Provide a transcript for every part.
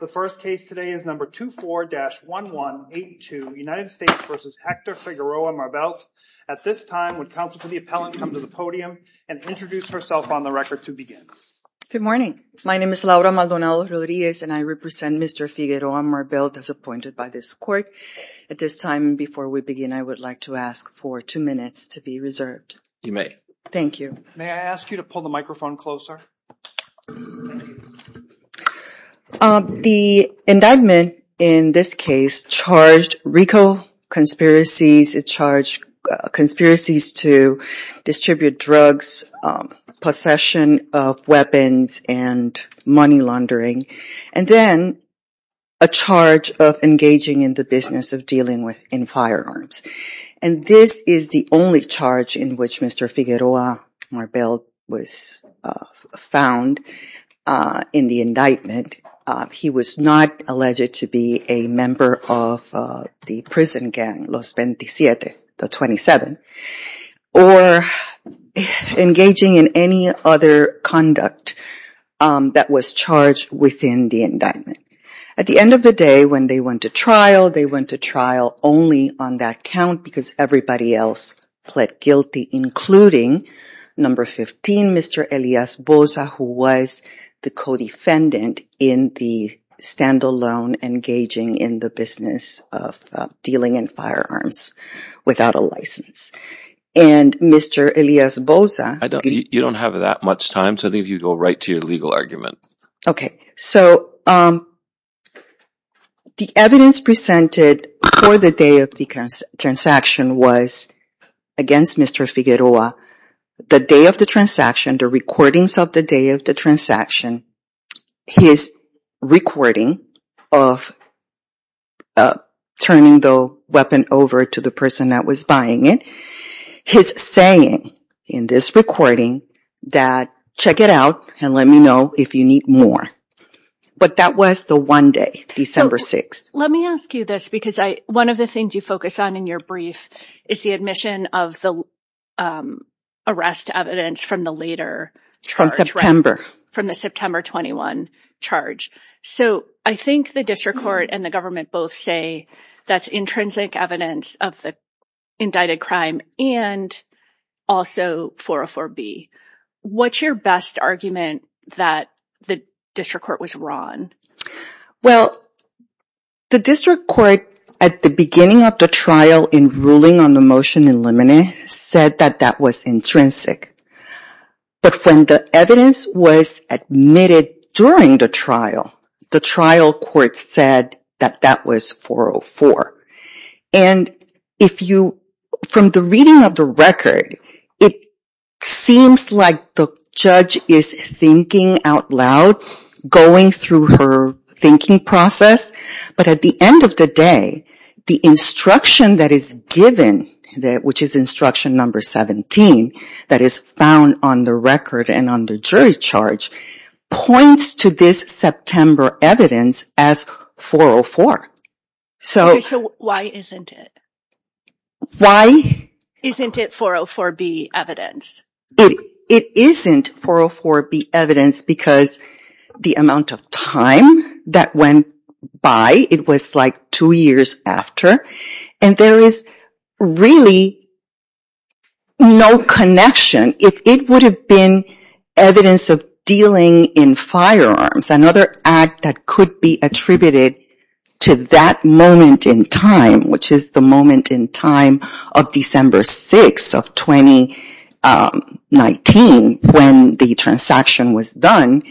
The first case today is number 24-1182, United States v. Hector Figueroa-Marbelt. At this time, would counsel for the appellant come to the podium and introduce herself on the record to begin. Good morning. My name is Laura Maldonado-Rodriguez and I represent Mr. Figueroa-Marbelt as appointed by this court. At this time, before we begin, I would like to ask for two minutes to be observed. You may. Thank you. May I ask you to pull the microphone closer? The indictment in this case charged RICO conspiracies. It charged conspiracies to distribute drugs, possession of weapons, and money laundering, and then a charge of engaging in the business of dealing with in firearms. And this is the only charge in which Mr. Figueroa-Marbelt was found in the indictment. He was not alleged to be a member of the prison gang, Los 27, the 27, or engaging in any other conduct that was charged within the indictment. At the end of the day, when they went to trial, they went to trial only on that count because everybody else pled guilty, including number 15, Mr. Elias Bosa, who was the co-defendant in the standalone engaging in the business of dealing in firearms without a license. And Mr. Elias Bosa... You don't have that much time, so I think you go right to your legal argument. Okay, so the evidence presented for the day of the transaction was against Mr. Figueroa. The day of the transaction, the recordings of the day of the transaction, his recording of turning the weapon over to the person that was buying it, his saying in this recording that, check it out and let me know if you need more. But that was the one day, December 6th. Let me ask you this because one of the things you focus on in your brief is the admission of the arrest evidence from the later... From September. From the September 21 charge. So I think the district court and the government both say that's intrinsic evidence of the indicted crime and also 404B. What's your best argument that the district court was wrong? Well, the district court at the beginning of the trial in ruling on the motion in limine said that that was intrinsic. But when the evidence was admitted during the trial, the trial court said that that was 404. And if you... From the reading of the record, it seems like the judge is thinking out loud, going through her thinking process. But at the end of the day, the instruction that is given, which is instruction number 17, that is found on the record and on the jury charge, points to this September evidence as 404. So why isn't it? Why isn't it 404B evidence? It isn't 404B evidence because the amount of time that went by, it was like two years after. And there is really no connection. If it would have been evidence of dealing in firearms, another act that could be attributed to that moment in time, which is the moment in time of December 6 of 2019 when the transaction was done,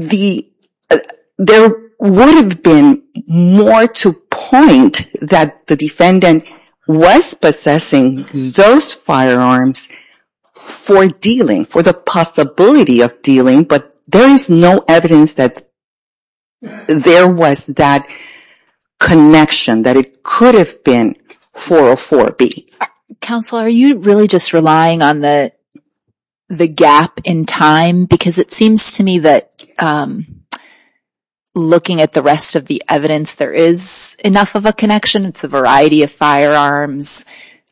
there would have been more to point that the defendant was possessing those firearms for dealing, for the possibility of dealing. But there is no evidence that there was that connection, that it could have been 404B. Counsel, are you really just relying on the gap in time? Because it seems to me that looking at the rest of the evidence, there is enough of a variety of firearms.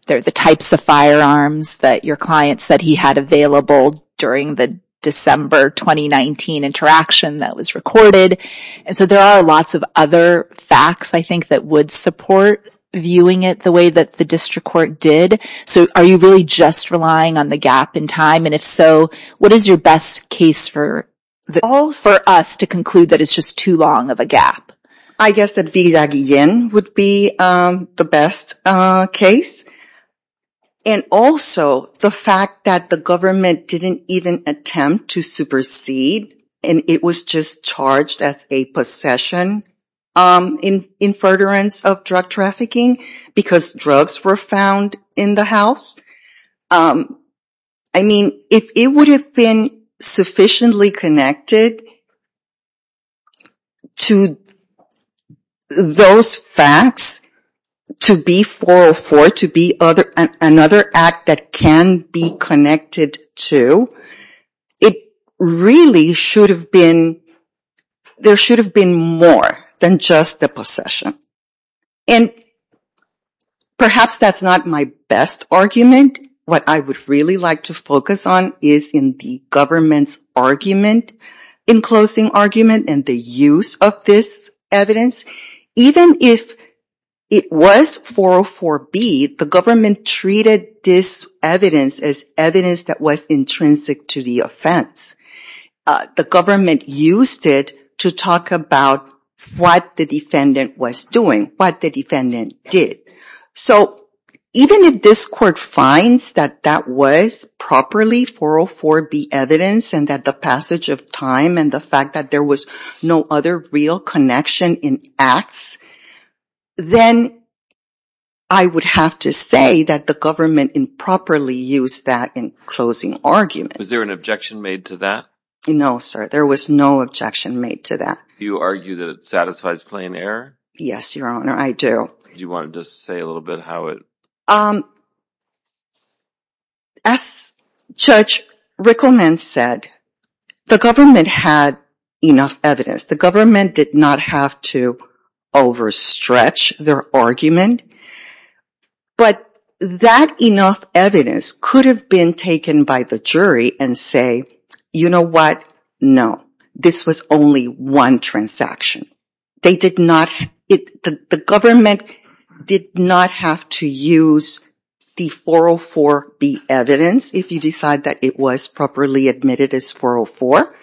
There are the types of firearms that your client said he had available during the December 2019 interaction that was recorded. And so there are lots of other facts, I think, that would support viewing it the way that the district court did. So are you really just relying on the gap in time? And if so, what is your best case for us to conclude that it's just too long of a gap? I guess that Viaggen would be the best case. And also the fact that the government didn't even attempt to supersede, and it was just charged as a possession, in in furtherance of drug trafficking, because drugs were found in the house. I mean, if it would have been sufficiently connected to those facts to be 404, to be another act that can be connected to, it really should have been, there should have been more than just the possession. And perhaps that's not my best argument. What I would really like to focus on is in the government's argument, in closing argument, and the use of this evidence. Even if it was 404B, the government treated this evidence as evidence that was intrinsic to the offense. The government used it to talk about what the defendant was doing, what the defendant did. So even if this court finds that that was properly 404B evidence, and that the passage of time and the fact that there was no other real connection in acts, then I would have to say that the government improperly used that in closing argument. Was there an objection made to that? No sir, there was no objection made to that. Do you argue that it satisfies plain error? Yes your honor, I do. Do you want to just say a little bit how it... As Judge Rickleman said, the government had enough evidence. The government did not have to overstretch their argument, but that enough evidence could have been taken by the jury and say, you know what, no. This was only one transaction. The government did not have to use the 404B evidence if you decide that it was properly admitted as 404.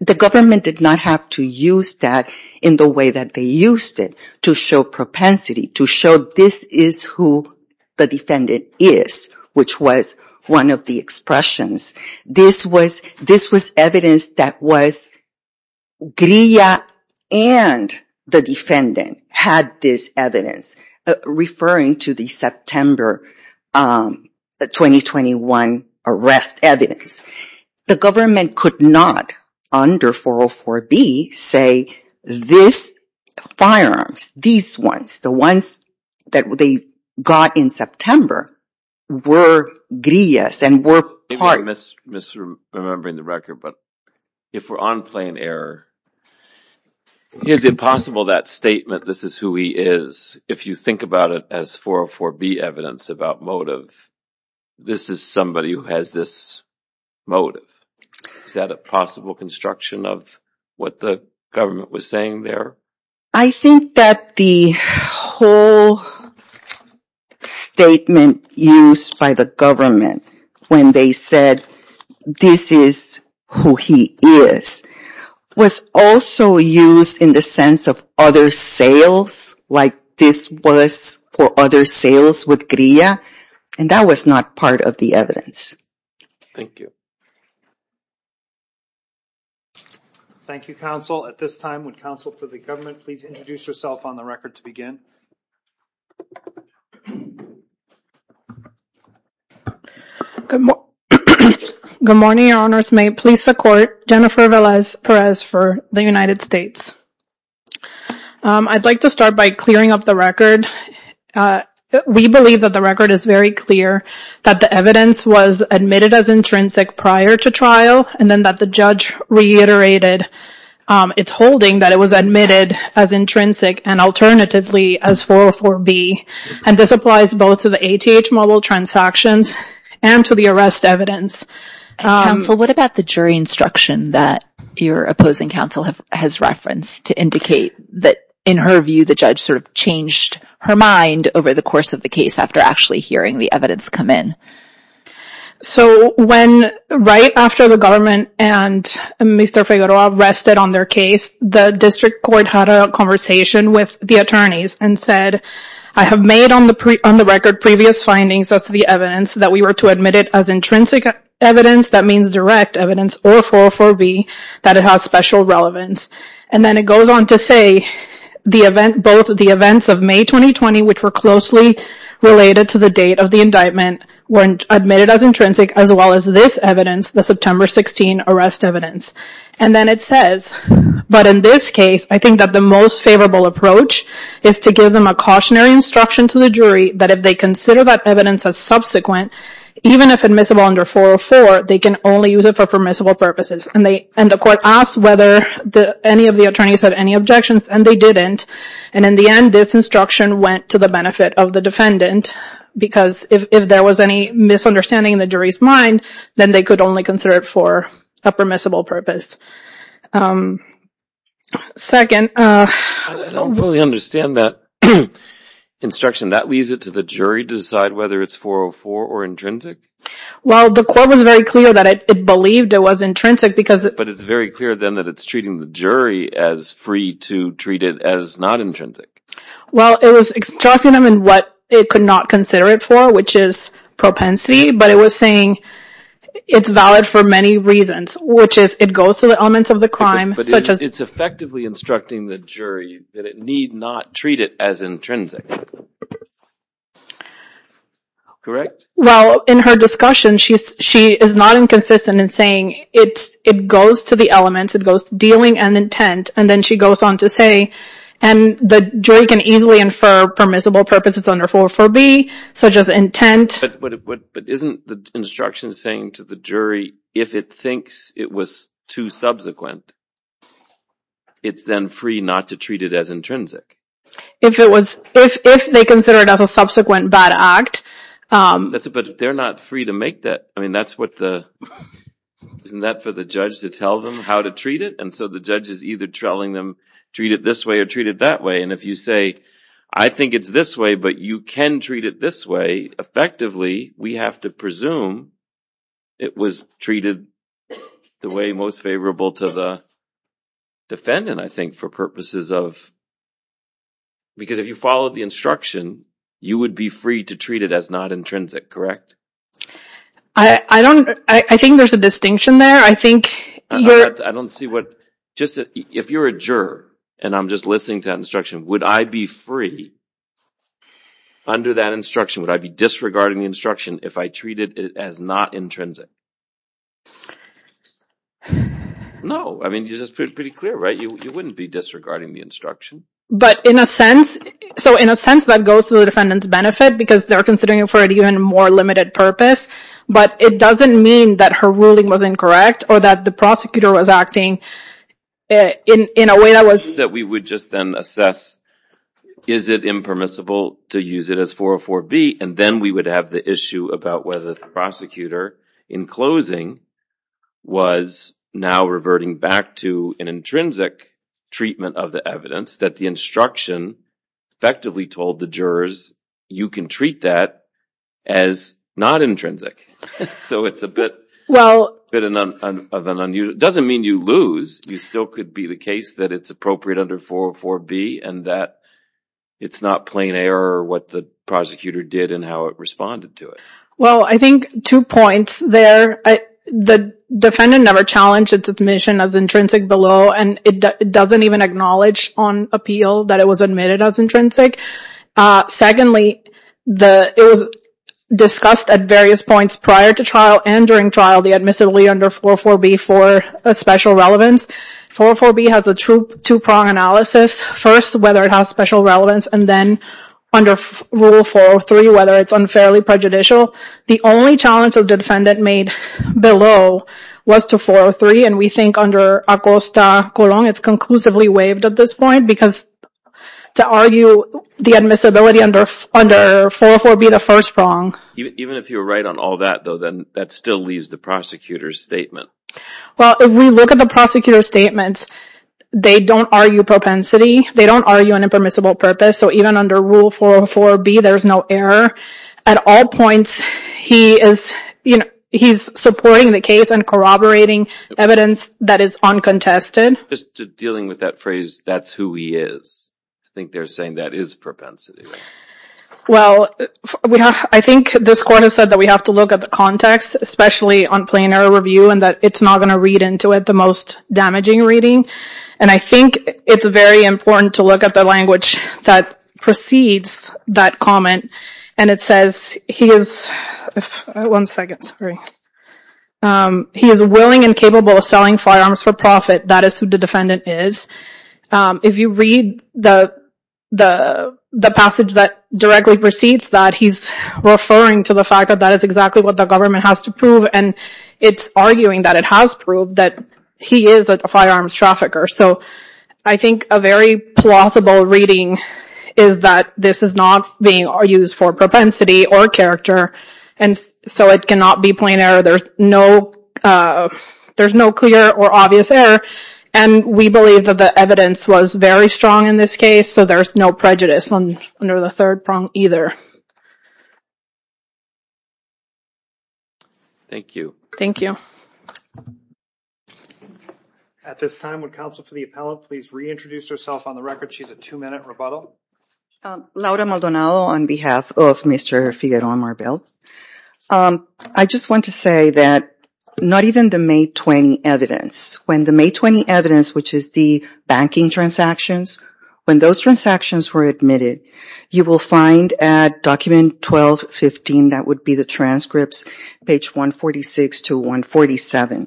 The government did not have to use that in the way that they used it, to show propensity, to show this is who the defendant is, which was one of the expressions. This was evidence that was... Grilla and the defendant had this evidence, referring to the September 2021 arrest evidence. The government could not under 404B say, this firearms, these ones, the ones that they got in September, were Grillas and were part... Maybe I'm misremembering the record, but if we're on plain error, is it possible that statement, this is who he is, if you think about it as 404B evidence about motive, this is somebody who has this motive. Is that a possible construction of what the government was saying there? I think that the whole statement used by the government when they said, this is who he is, was also used in the sense of other sales, like this was for other sales with Grilla, and that was not part of the evidence. Thank you. Thank you, counsel. At this time, would counsel for the government please introduce yourself on the record to begin? Good morning, your honors. May it please the court, Jennifer Velez Perez for the United States. I'd like to start by clearing up the record. We believe that the record is very clear, that the evidence was admitted as intrinsic prior to trial, and then that the judge reiterated its holding that it was admitted as intrinsic and alternatively as 404B, and this applies both to the ATH model transactions and to the arrest evidence. Counsel, what about the jury instruction that your opposing counsel has referenced to indicate that in her view the judge sort of changed her mind over the course of the case after actually hearing the evidence come in? So right after the government and Mr. Figueroa rested on their case, the district court had a conversation with the attorneys and said, I have made on the record previous findings as to the evidence that we were to admit it as intrinsic evidence, that means direct evidence, or 404B, that it has special relevance. And then it goes on to say both the events of May 2020, which were closely related to the date of the indictment, were admitted as intrinsic, as well as this evidence, the September 16 arrest evidence. And then it says, but in this case, I think that the most favorable approach is to give them a cautionary instruction to the jury that if they consider that evidence as subsequent, even if admissible under 404, they can only use it for permissible purposes. And the court asked whether any of the attorneys had any objections, and they didn't. And in the end, this instruction went to the benefit of the defendant, because if there was any misunderstanding in the jury's mind, then they could only consider it for a permissible purpose. Second... I don't fully understand that instruction. That leaves it to the jury to decide whether it's 404 or intrinsic? Well, the court was very clear that it believed it was intrinsic because... But it's very clear then that it's treating the jury as free to treat it as not intrinsic. Well, it was instructing them in what it could not consider it for, which is propensity, but it was saying it's valid for many reasons, which is, it goes to the elements of the crime, such as... But it's effectively instructing the jury that it need not treat it as intrinsic. Correct? Well, in her discussion, she is not inconsistent in saying it goes to the elements. It goes to dealing and intent, and then she goes on to say, and the jury can easily infer permissible purposes under 404B, such as intent... But isn't the instruction saying to the jury, if it thinks it was too subsequent, it's then free not to treat it as intrinsic? If it was... If they consider it as a subsequent bad act... That's it, but they're not free to make that... I mean, that's what the... Isn't that for the judge to tell them how to treat it? And so the judge is either telling them, treat it this way or treat it that way. And if you say, I think it's this way, but you can treat it this way, effectively, we have to presume it was treated the way most favorable to the defendant, I think, for purposes of... Because if you followed the instruction, you would be free to treat it as not intrinsic, correct? I don't... I think there's a distinction there. I think... I don't see what... Just if you're a juror, and I'm just listening to that instruction, would I be free under that instruction? Would I be disregarding the instruction if I treat it as not intrinsic? No. I mean, you're just pretty clear, right? You wouldn't be disregarding the instruction. But in a sense... So in a sense, that goes to the even more limited purpose, but it doesn't mean that her ruling was incorrect or that the prosecutor was acting in a way that was... That we would just then assess, is it impermissible to use it as 404B? And then we would have the issue about whether the prosecutor, in closing, was now reverting back to an intrinsic treatment of the evidence, that the instruction effectively told the jurors, you can treat that as not intrinsic. So it's a bit... Well... It doesn't mean you lose. You still could be the case that it's appropriate under 404B and that it's not plain error what the prosecutor did and how it responded to it. Well, I think two points there. The defendant never challenged its admission as intrinsic below, and it doesn't even acknowledge on appeal that it was admitted as intrinsic. Secondly, it was discussed at various points prior to trial and during trial, the admissibility under 404B for a special relevance. 404B has a true two-prong analysis. First, whether it has special relevance, and then under Rule 403, whether it's unfairly prejudicial. The only challenge of the defendant made below was to 403, and we think under Acosta-Colon, it's conclusively waived at this point, because to argue the admissibility under 404B, the first prong... Even if you're right on all that, though, then that still leaves the prosecutor's statement. Well, if we look at the prosecutor's statements, they don't argue propensity. They don't argue an impermissible purpose. So even under Rule 404B, there's no error at all points. He is, you know, he's supporting the case and corroborating evidence that is uncontested. Just dealing with that phrase, that's who he is. I think they're saying that is propensity. Well, I think this court has said that we have to look at the context, especially on plain error review, and that it's not going to read into it the most damaging reading, and I think it's very important to look at the language that precedes that comment, and it says he is... One second, sorry. He is willing and capable of selling firearms for profit. That is who the defendant is. If you read the passage that directly precedes that, he's referring to the fact that that is exactly what the government has to prove, and it's arguing that it has proved that he is a firearms trafficker. So I think a very plausible reading is that this is not being used for propensity or character, and so it cannot be plain error. There's no clear or obvious error, and we believe that the evidence was very strong in this case, so there's no prejudice under the third prong either. Thank you. Thank you. At this time, would counsel for the appellant please reintroduce herself on the record. She's a two-minute rebuttal. Laura Maldonado on behalf of Mr. Figueroa Marbel. I just want to say that not even the May 20 evidence, when the May 20 evidence, which is the banking transactions, when those transactions were admitted, you will find at document 1215, that would be the transcripts, page 146 to 147,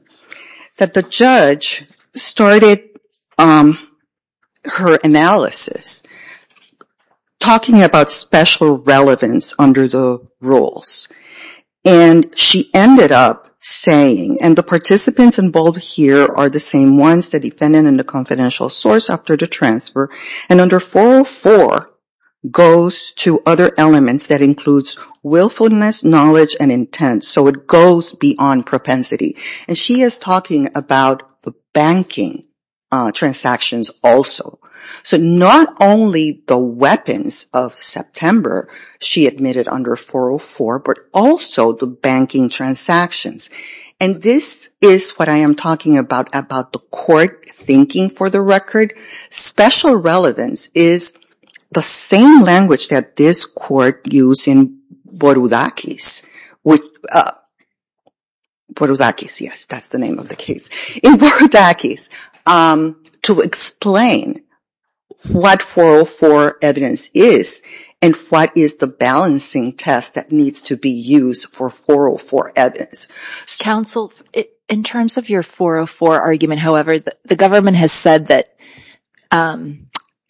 that the judge started her analysis talking about special relevance under the rules, and she ended up saying, and the participants involved here are the same ones, the defendant and the confidential source after the transfer, and under 404 goes to other elements that includes willfulness, knowledge, and intent. So it goes beyond propensity, and she is talking about the banking transactions also. So not only the weapons of September she admitted under 404, but also the banking transactions, and this is what I am talking about, about the court thinking for the record. Special relevance is the same language that this court used in Borudakis, which Borudakis, yes, that's the name of the case, in Borudakis to explain what 404 evidence is, and what is the balancing test that needs to be used for 404 evidence. Counsel, in terms of your 404 argument, however, the government has said that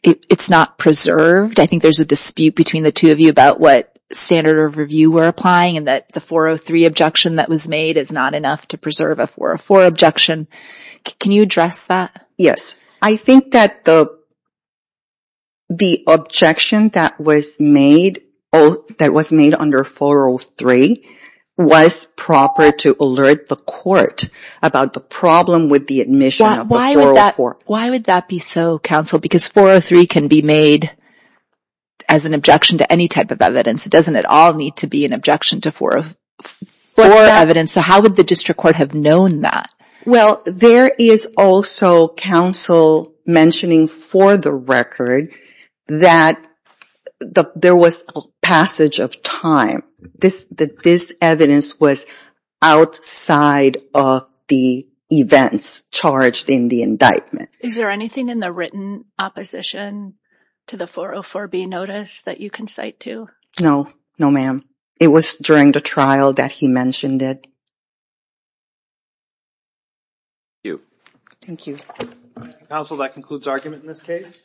it's not preserved. I think there's a dispute between the two of you about what standard of review we're applying, and that the 403 objection that was made is not enough to preserve a 404 objection. Can you address that? Yes, I think that the objection that was made under 403 was proper to alert the court about the problem with the admission of 404. Why would that be so, Counsel? Because 403 can be made as an objection to any type of evidence. It doesn't at all need to be an objection to 404 evidence, so how would the district court have known that? Well, there is also, Counsel mentioning for the record, that there was a passage of time. This evidence was outside of the events charged in the indictment. Is there anything in the written opposition to the 404B notice that you can cite to? No, no ma'am. It was during the trial that he mentioned it. Thank you. Counsel, that concludes argument in this case.